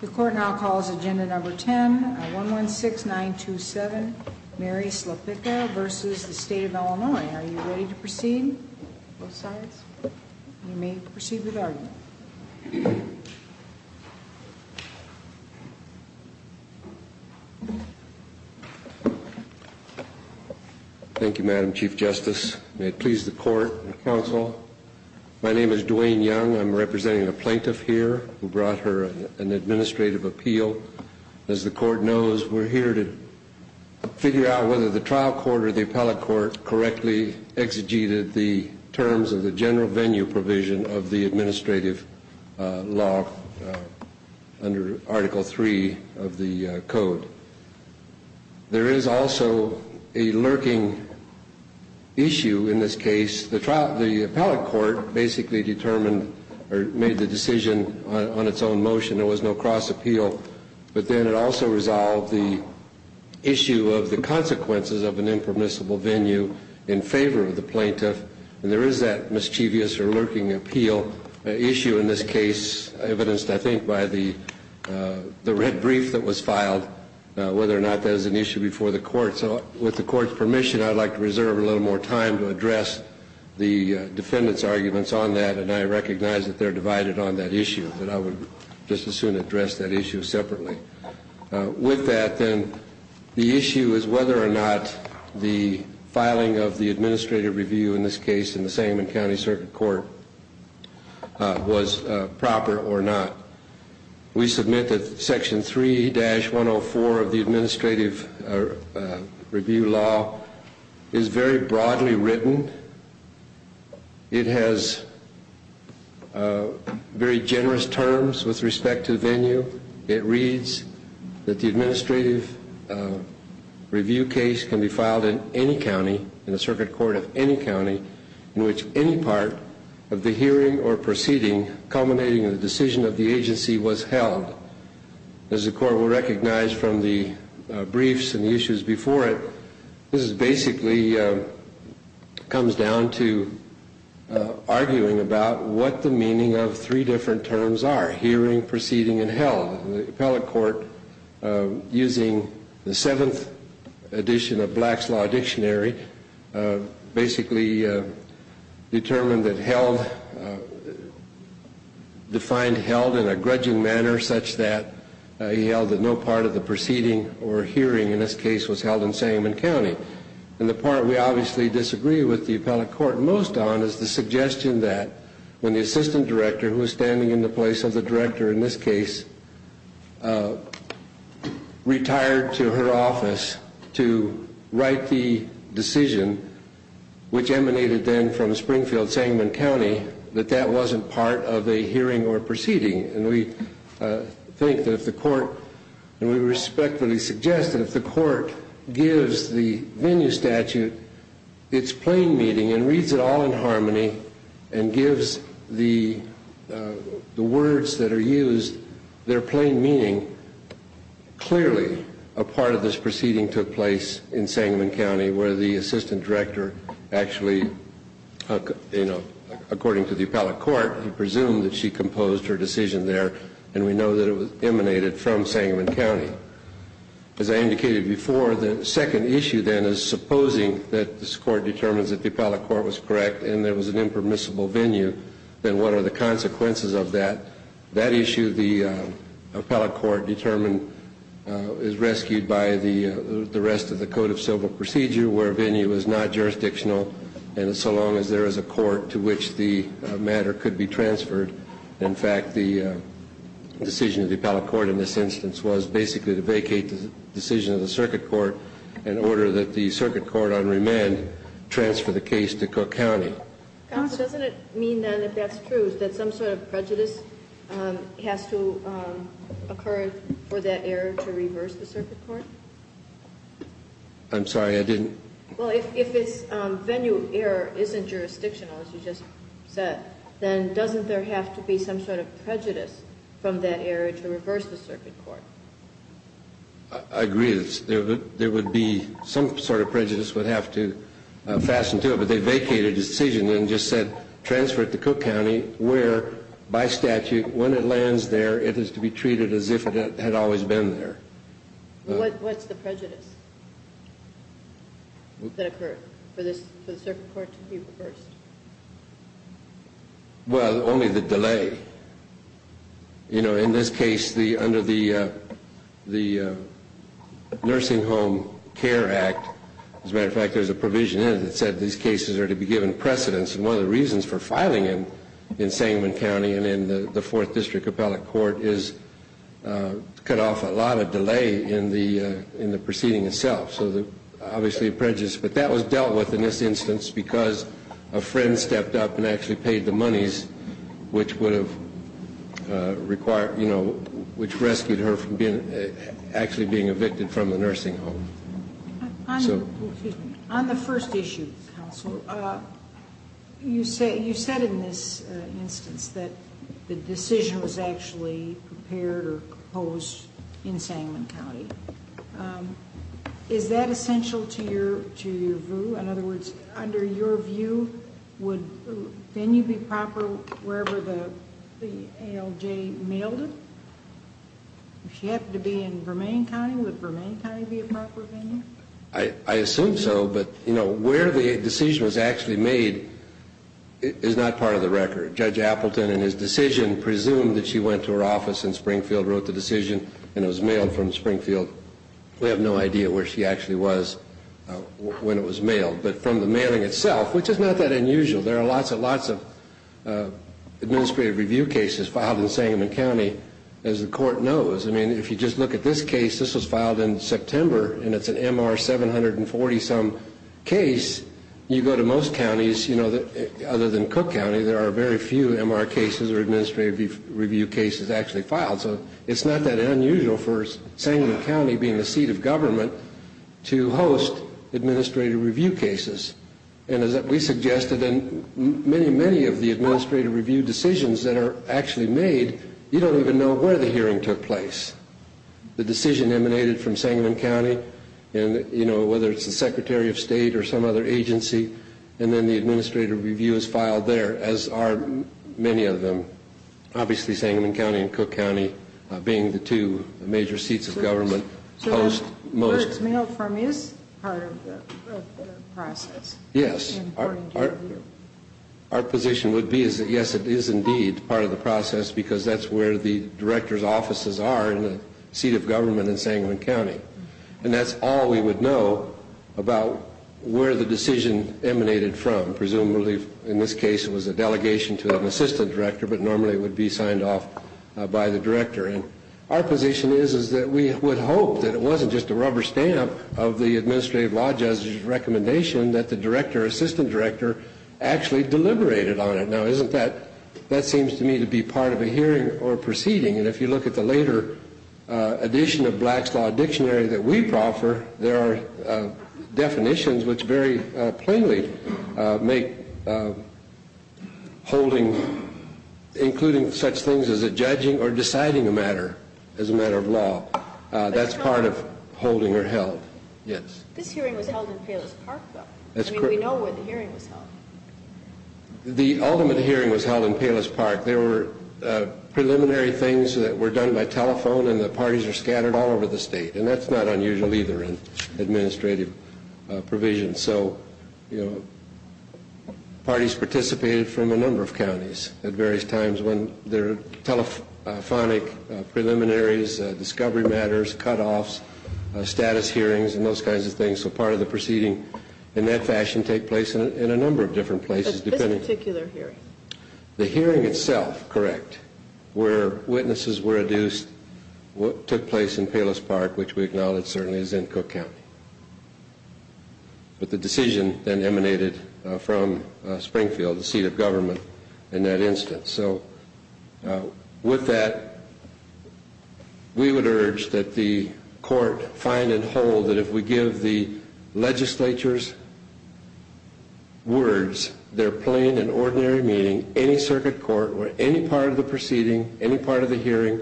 The court now calls agenda number 10 on 116927, Mary Slepicka v. State of Illinois. Are you ready to proceed? Both sides? You may proceed with the argument. Thank you, Madam Chief Justice. May it please the court and counsel, My name is Duane Young. I'm representing the plaintiff here who brought her an administrative appeal. As the court knows, we're here to figure out whether the trial court or the appellate court correctly exegeted the terms of the general venue provision of the administrative law under Article III of the Code. There is also a lurking issue in this case. The appellate court basically determined or made the decision on its own motion. There was no cross appeal. But then it also resolved the issue of the consequences of an impermissible venue in favor of the plaintiff. And there is that mischievous or lurking appeal issue in this case, evidenced I think by the red brief that was filed, whether or not that was an issue before the court. So with the court's permission, I'd like to reserve a little more time to address the defendant's arguments on that. And I recognize that they're divided on that issue, that I would just as soon address that issue separately. With that then, the issue is whether or not the filing of the administrative review in this case in the Sangamon County Circuit Court was proper or not. We submit that Section 3-104 of the administrative review law is very broadly written. It has very generous terms with respect to venue. It reads that the administrative review case can be filed in any county, in the circuit court of any county, in which any part of the hearing or proceeding culminating in the decision of the agency was held. As the court will recognize from the briefs and the issues before it, this basically comes down to arguing about what the meaning of three different terms are, hearing, proceeding, and held. The appellate court, using the seventh edition of Black's Law Dictionary, basically determined that held, defined held in a grudging manner such that he held that no part of the proceeding or hearing in this case was held in Sangamon County. And the part we obviously disagree with the appellate court most on is the suggestion that when the assistant director, who is standing in the place of the director in this case, retired to her office to write the decision, which emanated then from Springfield-Sangamon County, that that wasn't part of a hearing or proceeding. And we think that if the court, and we respectfully suggest that if the court gives the venue statute its plain meaning and reads it all in harmony and gives the words that are used their plain meaning, clearly a part of this proceeding took place in Sangamon County where the assistant director actually, according to the appellate court, presumed that she composed her decision there, and we know that it emanated from Sangamon County. As I indicated before, the second issue then is supposing that this court determines that the appellate court was correct and there was an impermissible venue, then what are the consequences of that? That issue the appellate court determined is rescued by the rest of the Code of Civil Procedure where venue is not jurisdictional and so long as there is a court to which the matter could be transferred. In fact, the decision of the appellate court in this instance was basically to vacate the decision of the circuit court in order that the circuit court on remand transfer the case to Cook County. Counsel, doesn't it mean then, if that's true, that some sort of prejudice has to occur for that error to reverse the circuit court? I'm sorry. I didn't. Well, if its venue error isn't jurisdictional, as you just said, then doesn't there have to be some sort of prejudice from that error to reverse the circuit court? I agree. There would be some sort of prejudice would have to fasten to it, but they vacated a decision and just said transfer it to Cook County where, by statute, when it lands there it is to be treated as if it had always been there. What's the prejudice that occurred for the circuit court to be reversed? Well, only the delay. You know, in this case, under the Nursing Home Care Act, as a matter of fact, there's a provision in it that said these cases are to be given precedence, and one of the reasons for filing in Sangamon County and in the Fourth District appellate court is to cut off a lot of delay in the proceeding itself. So obviously a prejudice. But that was dealt with in this instance because a friend stepped up and actually paid the monies which would have required, you know, which rescued her from actually being evicted from the nursing home. Excuse me. On the first issue, counsel, you said in this instance that the decision was actually prepared or proposed in Sangamon County. Is that essential to your view? In other words, under your view, would venue be proper wherever the ALJ mailed it? If she happened to be in Vermillion County, would Vermillion County be a proper venue? I assume so, but, you know, where the decision was actually made is not part of the record. Judge Appleton in his decision presumed that she went to her office in Springfield, wrote the decision, and it was mailed from Springfield. We have no idea where she actually was when it was mailed. But from the mailing itself, which is not that unusual, there are lots and lots of administrative review cases filed in Sangamon County, as the court knows. I mean, if you just look at this case, this was filed in September, and it's an MR 740-some case. You go to most counties, you know, other than Cook County, there are very few MR cases or administrative review cases actually filed. So it's not that unusual for Sangamon County, being the seat of government, to host administrative review cases. And as we suggested, many, many of the administrative review decisions that are actually made, you don't even know where the hearing took place. The decision emanated from Sangamon County, and, you know, whether it's the Secretary of State or some other agency, and then the administrative review is filed there, as are many of them, obviously Sangamon County and Cook County being the two major seats of government. So where it's mailed from is part of the process? Yes. Our position would be that, yes, it is indeed part of the process, because that's where the director's offices are in the seat of government in Sangamon County. And that's all we would know about where the decision emanated from. Presumably, in this case, it was a delegation to an assistant director, but normally it would be signed off by the director. And our position is that we would hope that it wasn't just a rubber stamp of the administrative law judge's recommendation that the director or assistant director actually deliberated on it. Now, isn't that, that seems to me to be part of a hearing or a proceeding. And if you look at the later edition of Black's Law Dictionary that we proffer, there are definitions which very plainly make holding, including such things as a judging or deciding a matter, as a matter of law, that's part of holding or held. Yes. This hearing was held in Palos Park, though. I mean, we know where the hearing was held. The ultimate hearing was held in Palos Park. There were preliminary things that were done by telephone, and the parties are scattered all over the state. And that's not unusual either in administrative provisions. So, you know, parties participated from a number of counties at various times when there are telephonic preliminaries, discovery matters, cutoffs, status hearings, and those kinds of things. So part of the proceeding in that fashion take place in a number of different places. But this particular hearing? The hearing itself, correct, where witnesses were adduced took place in Palos Park, which we acknowledge certainly is in Cook County. But the decision then emanated from Springfield, the seat of government, in that instance. So with that, we would urge that the court find and hold that if we give the legislature's words, their plain and ordinary meaning, any circuit court or any part of the proceeding, any part of the hearing,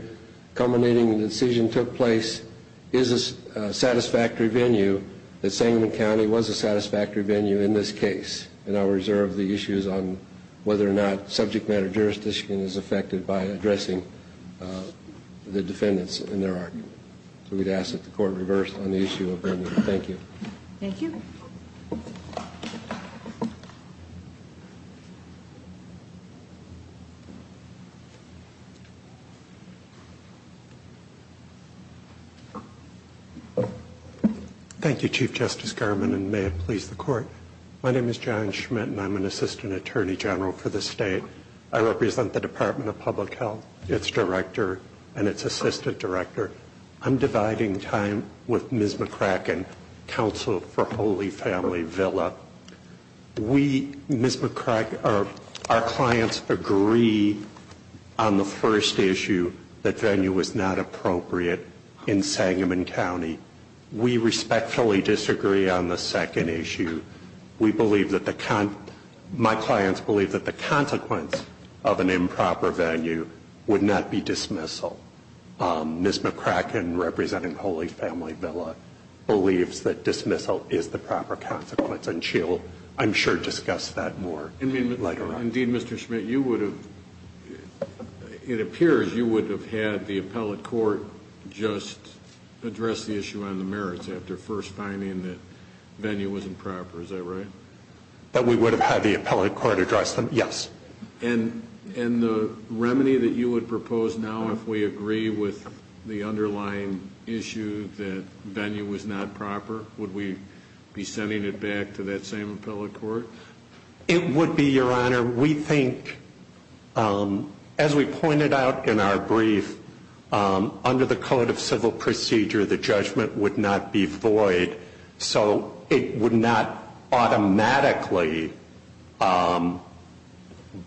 culminating in the decision took place, is a satisfactory venue, that Sangamon County was a satisfactory venue in this case. And I'll reserve the issues on whether or not subject matter jurisdiction is affected by addressing the defendants in their argument. So we'd ask that the court reverse on the issue of venue. Thank you. Thank you. Thank you, Chief Justice Garmon, and may it please the Court. My name is John Schmidt, and I'm an assistant attorney general for the state. I represent the Department of Public Health, its director, and its assistant director. I'm dividing time with Ms. McCracken, counsel for Holy Family Villa. We, Ms. McCracken, our clients agree on the first issue, that venue was not appropriate in Sangamon County. We respectfully disagree on the second issue. We believe that the, my clients believe that the consequence of an improper venue would not be dismissal. Ms. McCracken, representing Holy Family Villa, believes that dismissal is the proper consequence, and she'll, I'm sure, discuss that more later on. Indeed, Mr. Schmidt, you would have, it appears you would have had the appellate court just address the issue on the merits after first finding that venue wasn't proper. Is that right? That we would have had the appellate court address them, yes. And the remedy that you would propose now if we agree with the underlying issue that venue was not proper, would we be sending it back to that same appellate court? It would be, Your Honor. We think, as we pointed out in our brief, under the Code of Civil Procedure, the judgment would not be void. So it would not automatically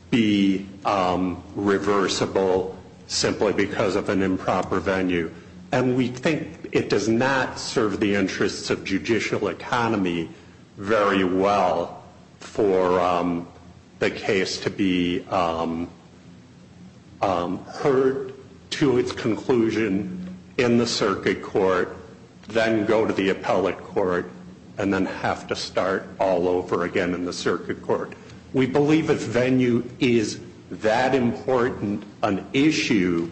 be reversible simply because of an improper venue. And we think it does not serve the interests of judicial economy very well for the case to be heard to its conclusion in the circuit court, then go to the appellate court, and then have to start all over again in the circuit court. We believe if venue is that important an issue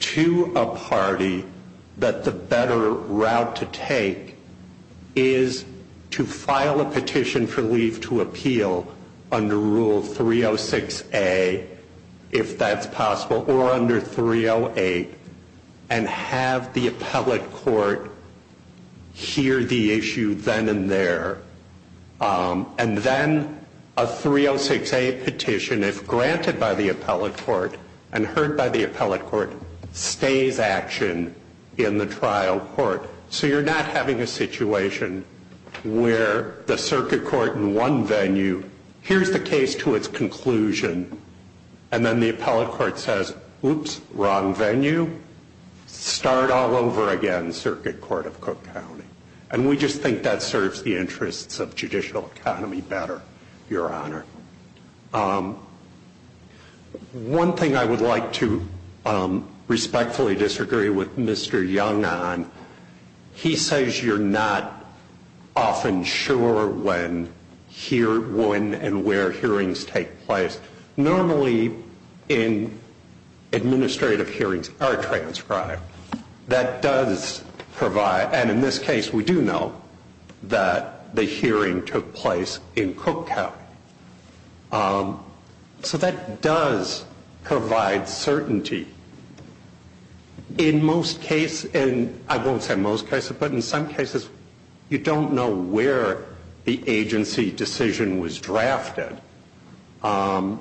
to a party, that the better route to take is to file a petition for leave to appeal under Rule 306A, if that's possible, or under 308, and have the appellate court hear the issue then and there. And then a 306A petition, if granted by the appellate court and heard by the appellate court, stays action in the trial court. So you're not having a situation where the circuit court in one venue, here's the case to its conclusion. And then the appellate court says, oops, wrong venue. Start all over again, Circuit Court of Cook County. And we just think that serves the interests of judicial economy better, Your Honor. One thing I would like to respectfully disagree with Mr. Young on, he says you're not often sure when and where hearings take place. Normally in administrative hearings are transcribed. That does provide, and in this case we do know, that the hearing took place in Cook County. So that does provide certainty. In most cases, and I won't say most cases, but in some cases you don't know where the agency decision was drafted. And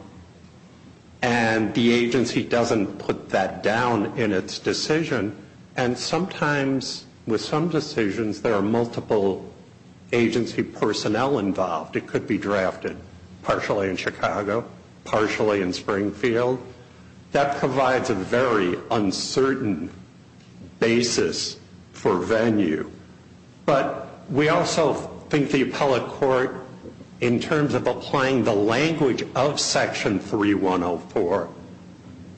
the agency doesn't put that down in its decision. And sometimes with some decisions there are multiple agency personnel involved. It could be drafted partially in Chicago, partially in Springfield. That provides a very uncertain basis for venue. But we also think the appellate court, in terms of applying the language of Section 3104,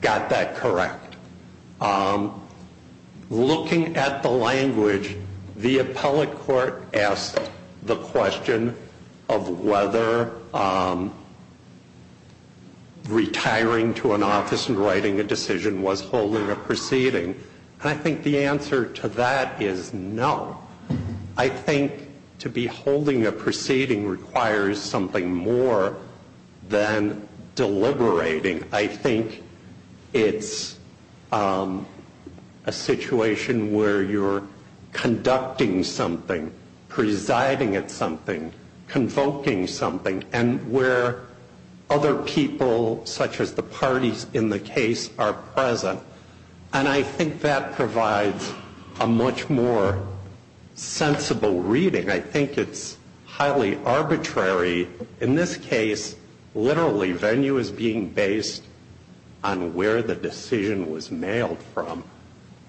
got that correct. Looking at the language, the appellate court asked the question of whether retiring to an office and writing a decision was holding a proceeding. And I think the answer to that is no. I think to be holding a proceeding requires something more than deliberating. I think it's a situation where you're conducting something, presiding at something, convoking something, and where other people, such as the parties in the case, are present. And I think that provides a much more sensible reading. I think it's highly arbitrary. In this case, literally venue is being based on where the decision was mailed from,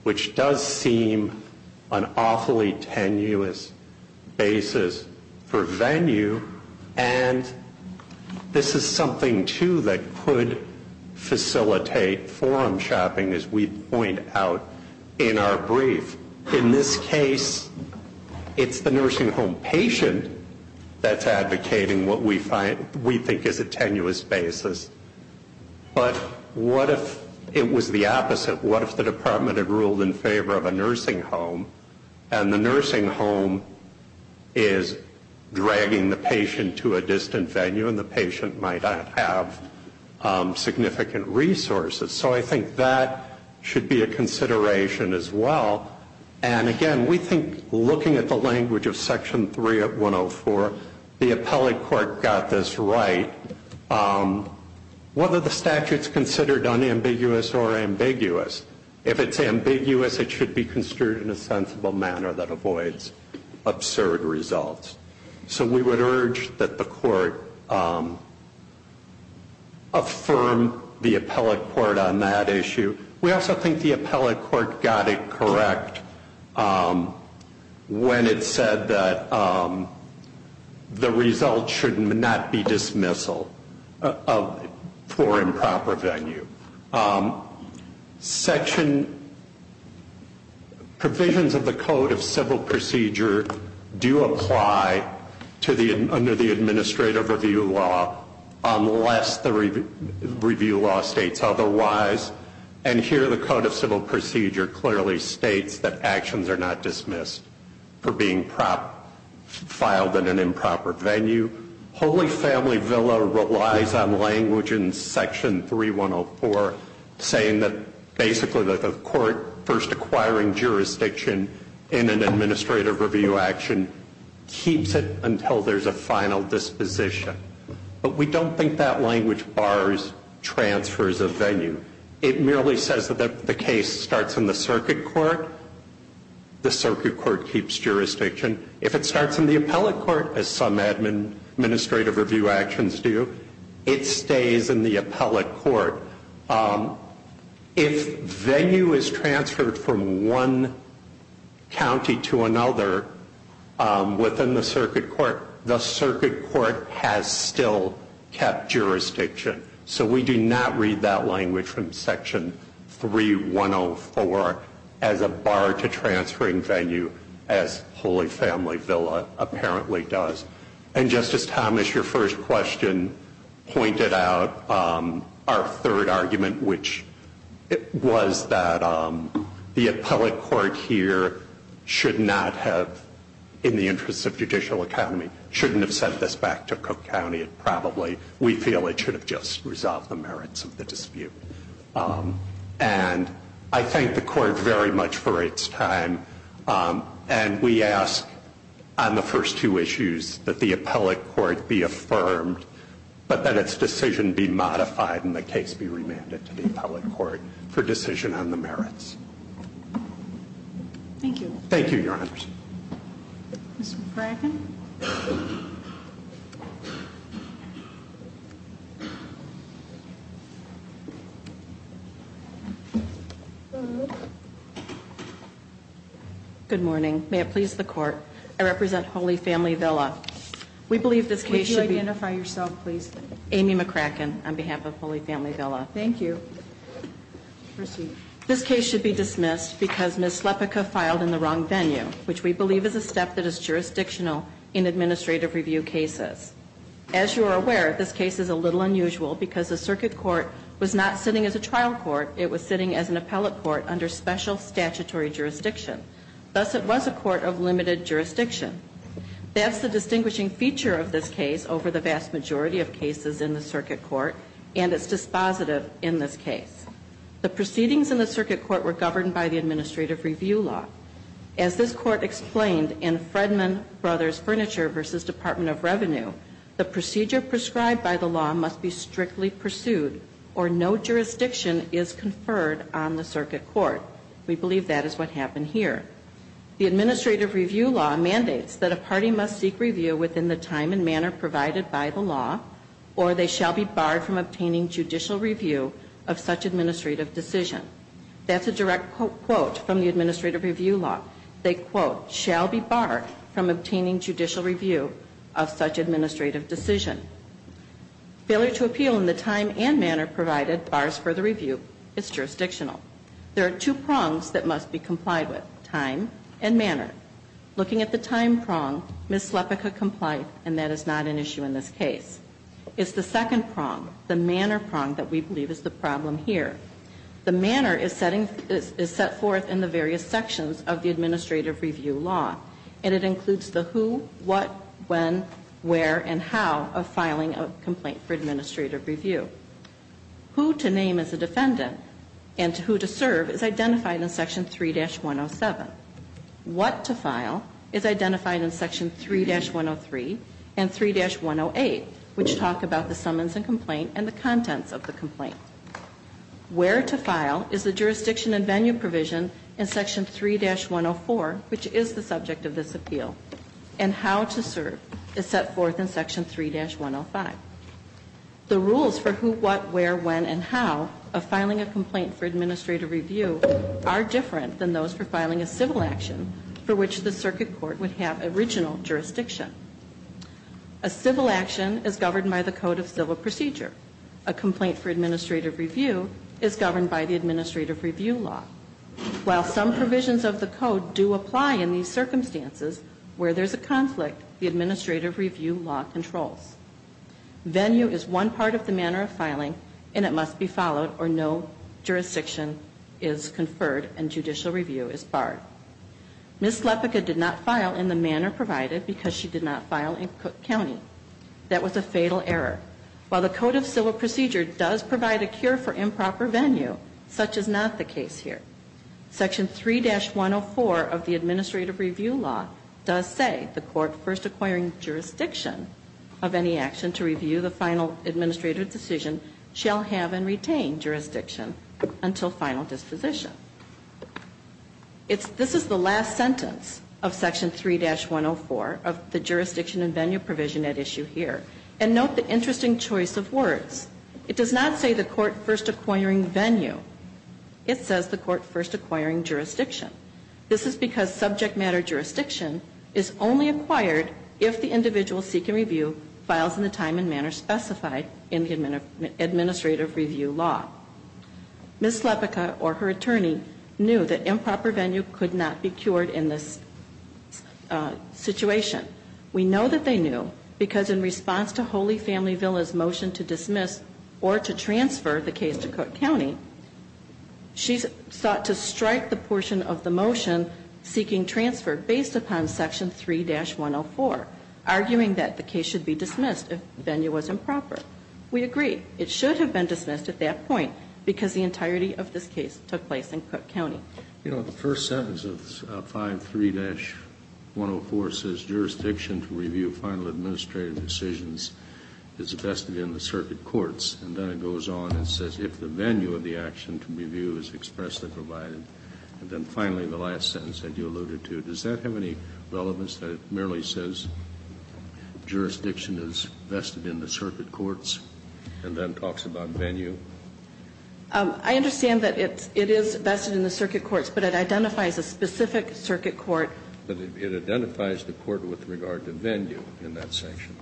which does seem an awfully tenuous basis for venue. And this is something, too, that could facilitate forum shopping, as we point out in our brief. In this case, it's the nursing home patient that's advocating what we think is a tenuous basis. But what if it was the opposite? What if the department had ruled in favor of a nursing home, and the nursing home is dragging the patient to a distant venue and the patient might not have significant resources? So I think that should be a consideration as well. And, again, we think looking at the language of Section 3 of 104, the appellate court got this right. Whether the statute's considered unambiguous or ambiguous, if it's ambiguous, it should be construed in a sensible manner that avoids absurd results. So we would urge that the court affirm the appellate court on that issue. We also think the appellate court got it correct when it said that the result should not be dismissal for improper venue. Section provisions of the Code of Civil Procedure do apply under the administrative review law unless the review law states otherwise. And here the Code of Civil Procedure clearly states that actions are not dismissed for being filed in an improper venue. Holy Family Villa relies on language in Section 3104 saying that basically the court first acquiring jurisdiction in an administrative review action keeps it until there's a final disposition. But we don't think that language bars transfers of venue. It merely says that the case starts in the circuit court. The circuit court keeps jurisdiction. If it starts in the appellate court, as some administrative review actions do, it stays in the appellate court. If venue is transferred from one county to another within the circuit court, the circuit court has still kept jurisdiction. So we do not read that language from Section 3104 as a bar to transferring venue as Holy Family Villa apparently does. And Justice Thomas, your first question pointed out our third argument, which was that the appellate court here should not have, in the interest of judicial economy, shouldn't have sent this back to Cook County. It probably, we feel it should have just resolved the merits of the dispute. And I thank the court very much for its time. And we ask on the first two issues that the appellate court be affirmed, but that its decision be modified and the case be remanded to the appellate court for decision on the merits. Thank you. Thank you, Your Honor. Ms. McCracken? Good morning. May it please the court, I represent Holy Family Villa. We believe this case should be- Would you identify yourself, please? Amy McCracken, on behalf of Holy Family Villa. Thank you. Proceed. This case should be dismissed because mislepica filed in the wrong venue, which we believe is a step that is jurisdictional in administrative review cases. As you are aware, this case is a little unusual because the circuit court was not sitting as a trial court. It was sitting as an appellate court under special statutory jurisdiction. Thus, it was a court of limited jurisdiction. That's the distinguishing feature of this case over the vast majority of cases in the circuit court, and it's dispositive in this case. The proceedings in the circuit court were governed by the administrative review law. As this court explained in Fredman Brothers Furniture v. Department of Revenue, the procedure prescribed by the law must be strictly pursued or no jurisdiction is conferred on the circuit court. We believe that is what happened here. The administrative review law mandates that a party must seek review within the time and manner provided by the law or they shall be barred from obtaining judicial review of such administrative decision. That's a direct quote from the administrative review law. They, quote, shall be barred from obtaining judicial review of such administrative decision. Failure to appeal in the time and manner provided bars further review is jurisdictional. There are two prongs that must be complied with, time and manner. Looking at the time prong, Ms. Slepika complied, and that is not an issue in this case. It's the second prong, the manner prong, that we believe is the problem here. The manner is setting, is set forth in the various sections of the administrative review law, and it includes the who, what, when, where, and how of filing a complaint for administrative review. Who to name as a defendant and who to serve is identified in Section 3-107. What to file is identified in Section 3-103 and 3-108, which talk about the summons and complaint and the contents of the complaint. Where to file is the jurisdiction and venue provision in Section 3-104, which is the subject of this appeal. And how to serve is set forth in Section 3-105. The rules for who, what, where, when, and how of filing a complaint for administrative review law are defined in Section 3-106. In Section 3-106, there is a civil action for which the circuit court would have original jurisdiction. A civil action is governed by the Code of Civil Procedure. A complaint for administrative review is governed by the administrative review law. While some provisions of the Code do apply in these circumstances where there's a conflict, the administrative review law controls. Venue is one part of the manner of filing and it must be followed or no jurisdiction is conferred and judicial review is barred. Ms. Slepika did not file in the manner provided because she did not file in Cook County. That was a fatal error. While the Code of Civil Procedure does provide a cure for improper venue, such is not the case here. Section 3-104 of the administrative review law does say the court first acquiring jurisdiction of any action to review the final administrative decision shall have and retain jurisdiction until final disposition. This is the last sentence of Section 3-104 of the jurisdiction and venue provision at issue here. And note the interesting choice of words. It does not say the court first acquiring venue. It says the court first acquiring jurisdiction. This is because subject matter jurisdiction is only acquired if the individual seeking review files in the time and manner specified in the administrative review law. Ms. Slepika or her attorney knew that improper venue could not be cured in this situation. We know that they knew because in response to Holy Family Villa's motion to dismiss or to transfer the case to Cook County, she sought to strike the portion of the motion seeking transfer based upon Section 3-104, arguing that the case should be dismissed if venue was improper. We agree. It should have been dismissed at that point because the entirety of this case took place in Cook County. You know, the first sentence of 5-3-104 says jurisdiction to review final administrative decisions is vested in the circuit courts, and then it goes on and says if the venue of the action to review is expressly provided, and then finally the last sentence that you alluded to, does that have any relevance that it merely says jurisdiction is vested in the circuit courts and then talks about venue? I understand that it is vested in the circuit courts, but it identifies a specific circuit court. It identifies the court with regard to venue in that section.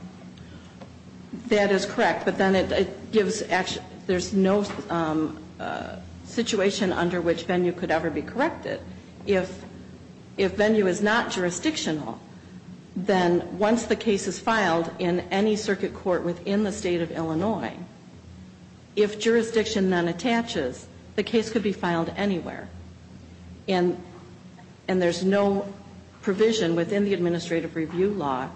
That is correct, but then it gives action. There's no situation under which venue could ever be corrected. If venue is not jurisdictional, then once the case is filed in any circuit court within the State of Illinois, if jurisdiction then attaches, the case could be filed anywhere, and there's no provision within the administrative review law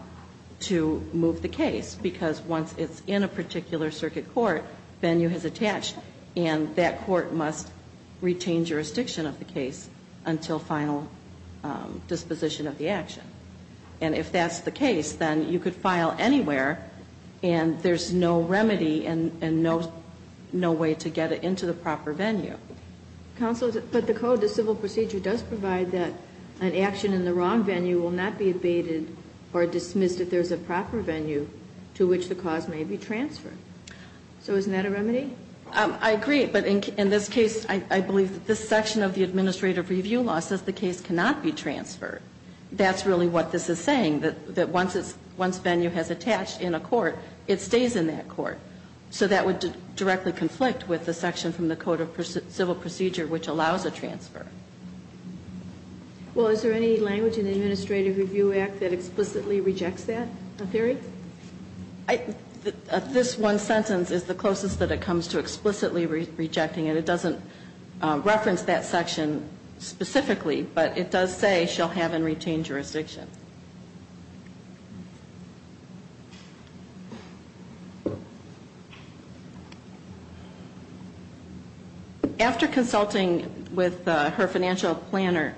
to move the case, because once it's in a particular circuit court, venue has attached, and that court must retain jurisdiction of the case until final disposition of the action. And if that's the case, then you could file anywhere, and there's no remedy and no way to get it into the proper venue. Counsel, but the code, the civil procedure, does provide that an action in the wrong venue will not be abated or dismissed if there's a proper venue to which the cause may be transferred. So isn't that a remedy? I agree, but in this case, I believe that this section of the administrative review law says the case cannot be transferred. That's really what this is saying, that once venue has attached in a court, it stays in that court. So that would directly conflict with the section from the code of civil procedure which allows a transfer. Well, is there any language in the Administrative Review Act that explicitly rejects that theory? This one sentence is the closest that it comes to explicitly rejecting it. It doesn't reference that section specifically, but it does say shall have and retain jurisdiction. After consulting with her financial planner,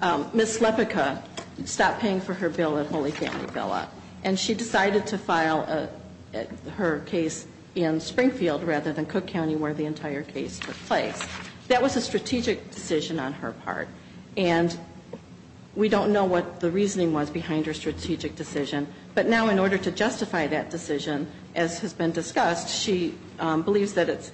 Ms. Slepica stopped paying for her bill at Holy Family Villa, and she decided to file her case in Springfield rather than Cook County where the entire case took place. That was a strategic decision on her part, and we decided that we would not We don't know what the reasoning was behind her strategic decision, but now in order to justify that decision, as has been discussed, she believes that it's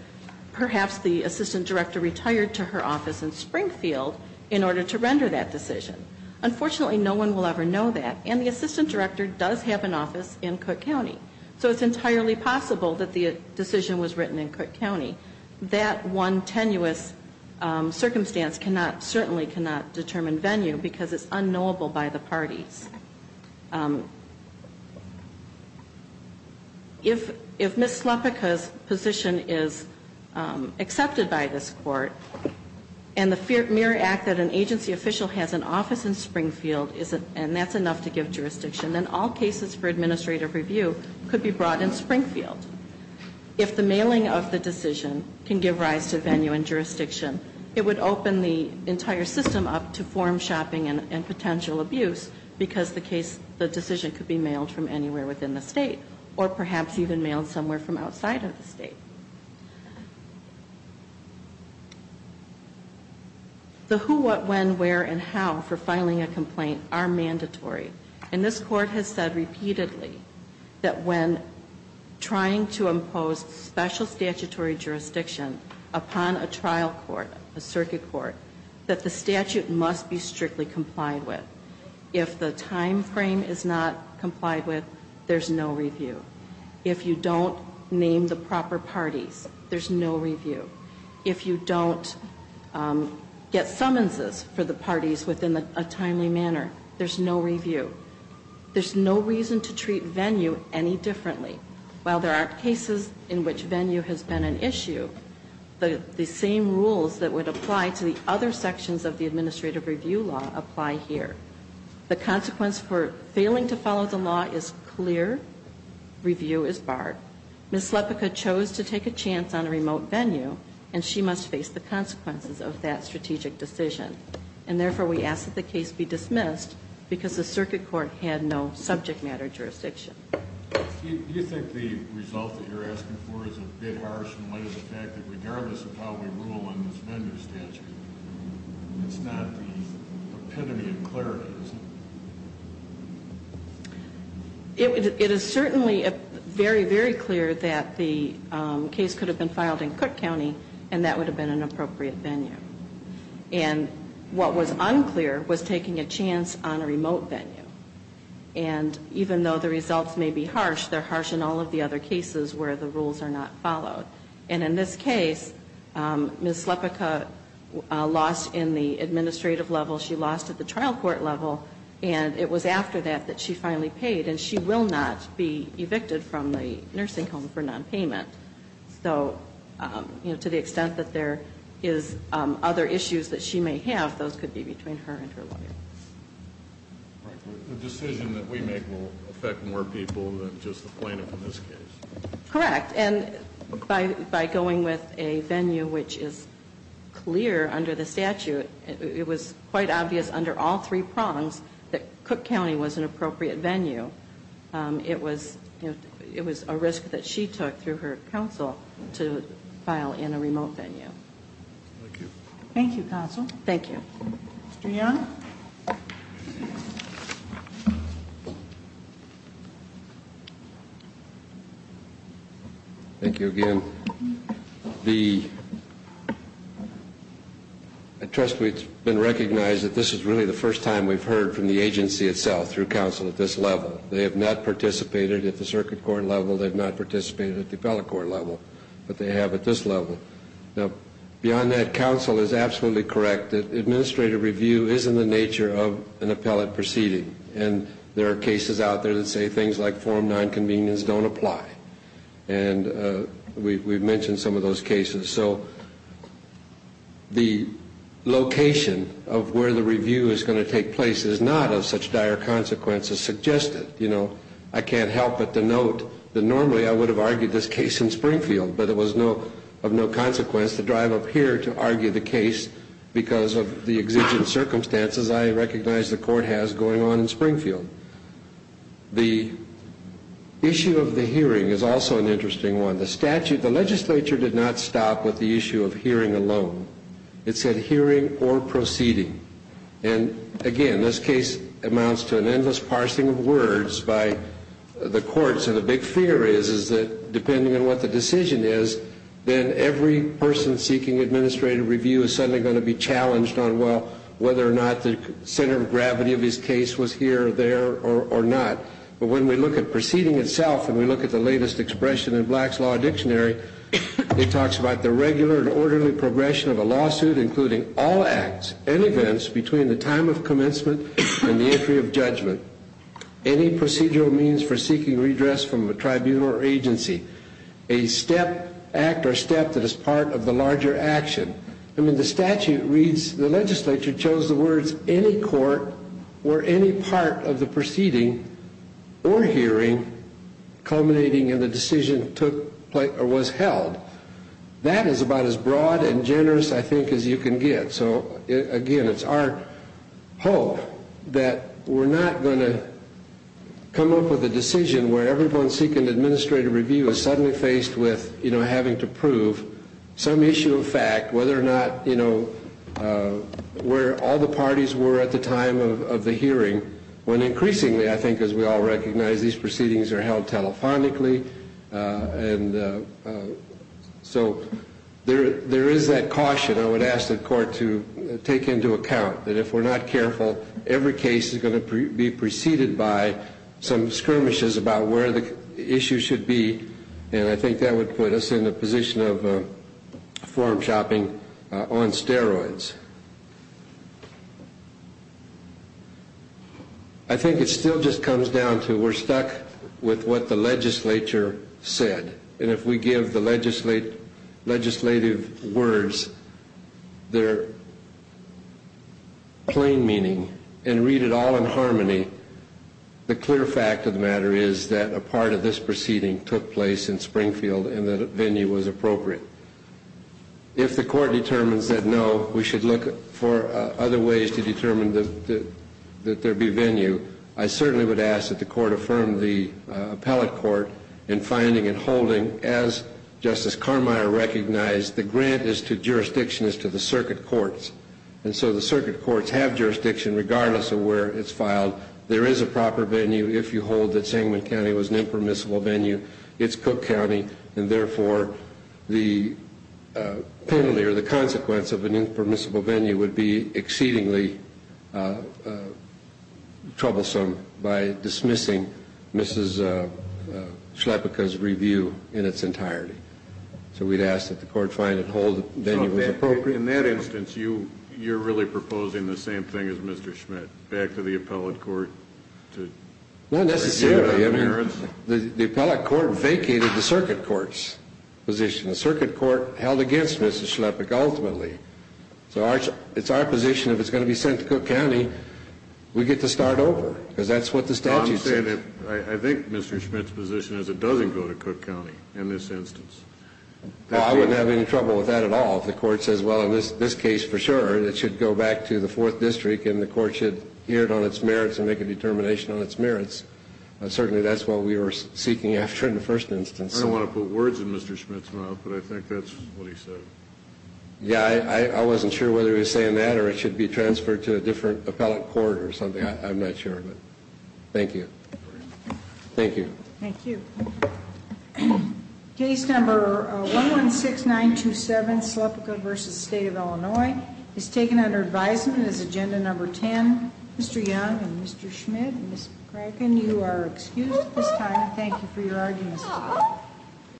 perhaps the assistant director retired to her office in Springfield in order to render that decision. Unfortunately, no one will ever know that, and the assistant director does have an office in Cook County. So it's entirely possible that the decision was written in Cook County. That one tenuous circumstance certainly cannot determine venue because it's unknowable by the parties. If Ms. Slepica's position is accepted by this Court, and the mere act that an agency official has an office in Springfield, and that's enough to give jurisdiction, then all cases for administrative review could be brought in Springfield. If the mailing of the decision can give rise to venue and jurisdiction, it would open the entire system up to form shopping and potential abuse because the case, the decision could be mailed from anywhere within the state, or perhaps even mailed somewhere from outside of the state. The who, what, when, where, and how for filing a complaint are mandatory, and this special statutory jurisdiction upon a trial court, a circuit court, that the statute must be strictly complied with. If the time frame is not complied with, there's no review. If you don't name the proper parties, there's no review. If you don't get summonses for the parties within a timely manner, there's no review. There's no reason to treat venue any differently. While there are cases in which venue has been an issue, the same rules that would apply to the other sections of the administrative review law apply here. The consequence for failing to follow the law is clear. Review is barred. Ms. Slepica chose to take a chance on a remote venue, and she must face the consequences of that strategic decision. And therefore, we ask that the case be dismissed, because the circuit court had no subject matter jurisdiction. Do you think the result that you're asking for is a bit harsh in light of the fact that regardless of how we rule on this venue statute, it's not the epitome of clarity, is it? It is certainly very, very clear that the case could have been filed in Cook County, and that would have been an appropriate venue. And what was unclear was taking a chance on a remote venue. And even though the results may be harsh, they're harsh in all of the other cases where the rules are not followed. And in this case, Ms. Slepica lost in the administrative level. She lost at the trial court level. And it was after that that she finally paid, and she will not be evicted from the nursing home for nonpayment. So, you know, to the extent that there is other issues that she may have, those could be between her and her lawyer. The decision that we make will affect more people than just the plaintiff in this case. Correct. And by going with a venue which is clear under the statute, it was quite obvious under all three prongs that Cook County was an appropriate venue. It was a risk that she took through her counsel to file in a remote venue. Thank you. Thank you, counsel. Thank you. Mr. Young? Thank you again. I trust it's been recognized that this is really the first time we've heard from the agency itself through counsel at this level. They have not participated at the circuit court level. They have not participated at the appellate court level. But they have at this level. Now, beyond that, counsel is absolutely correct. Administrative review is in the nature of an appellate proceeding. And there are cases out there that say things like form nonconvenience don't apply. And we've mentioned some of those cases. So the location of where the review is going to take place is not of such dire consequences suggested. You know, I can't help but denote that normally I would have argued this case in Springfield. But it was of no consequence to drive up here to argue the case because of the exigent circumstances I recognize the court has going on in Springfield. The issue of the hearing is also an interesting one. The statute, the legislature did not stop with the issue of hearing alone. It said hearing or proceeding. And again, this case amounts to an endless parsing of words by the courts. And the big fear is that depending on what the decision is, then every person seeking administrative review is suddenly going to be challenged on whether or not the center of gravity of his case was here or there or not. But when we look at proceeding itself and we look at the latest expression in Black's Law Dictionary, it talks about the regular and orderly progression of a lawsuit including all acts and events between the time of commencement and the entry of judgment. Any procedural means for seeking redress from a tribunal or agency. A step, act or step that is part of the larger action. I mean the statute reads, the legislature chose the words any court or any part of the proceeding or hearing culminating in the decision was held. That is about as broad and generous I think as you can get. So again, it's our hope that we're not going to come up with a decision where everyone seeking administrative review is suddenly faced with having to prove some issue of fact, whether or not where all the parties were at the time of the hearing when increasingly I think as we all recognize these proceedings are held telephonically. And so there is that caution I would ask the court to take into account that if we're not careful, every case is going to be preceded by some skirmishes about where the issue should be. And I think that would put us in a position of form shopping on steroids. I think it still just comes down to we're stuck with what the legislature said. And if we give the legislative words their plain meaning and read it all in harmony, the clear fact of the matter is that a part of this proceeding took place in Springfield and that venue was appropriate. So if the court determines that no, we should look for other ways to determine that there be venue, I certainly would ask that the court affirm the appellate court in finding and holding, as Justice Carmeier recognized, the grant is to jurisdiction is to the circuit courts. And so the circuit courts have jurisdiction regardless of where it's filed. There is a proper venue if you hold that Sangamon County was an impermissible venue. It's Cook County, and therefore the penalty or the consequence of an impermissible venue would be exceedingly troublesome by dismissing Mrs. Schlepika's review in its entirety. So we'd ask that the court find and hold the venue was appropriate. In that instance, you're really proposing the same thing as Mr. Schmidt, back to the appellate court? Not necessarily. The appellate court vacated the circuit court's position. The circuit court held against Mrs. Schlepika ultimately. So it's our position if it's going to be sent to Cook County, we get to start over, because that's what the statute says. I think Mr. Schmidt's position is it doesn't go to Cook County in this instance. Well, I wouldn't have any trouble with that at all if the court says, well, in this case for sure, it should go back to the 4th District and the court should hear it on its merits and make a determination on its merits. Certainly that's what we were seeking after in the first instance. I don't want to put words in Mr. Schmidt's mouth, but I think that's what he said. Yeah, I wasn't sure whether he was saying that or it should be transferred to a different appellate court or something. I'm not sure, but thank you. Thank you. Thank you. Case number 116927, Schlepika v. State of Illinois, is taken under advisement as agenda number 10. Mr. Young and Mr. Schmidt and Ms. McCracken, you are excused at this time. Thank you for your arguments today.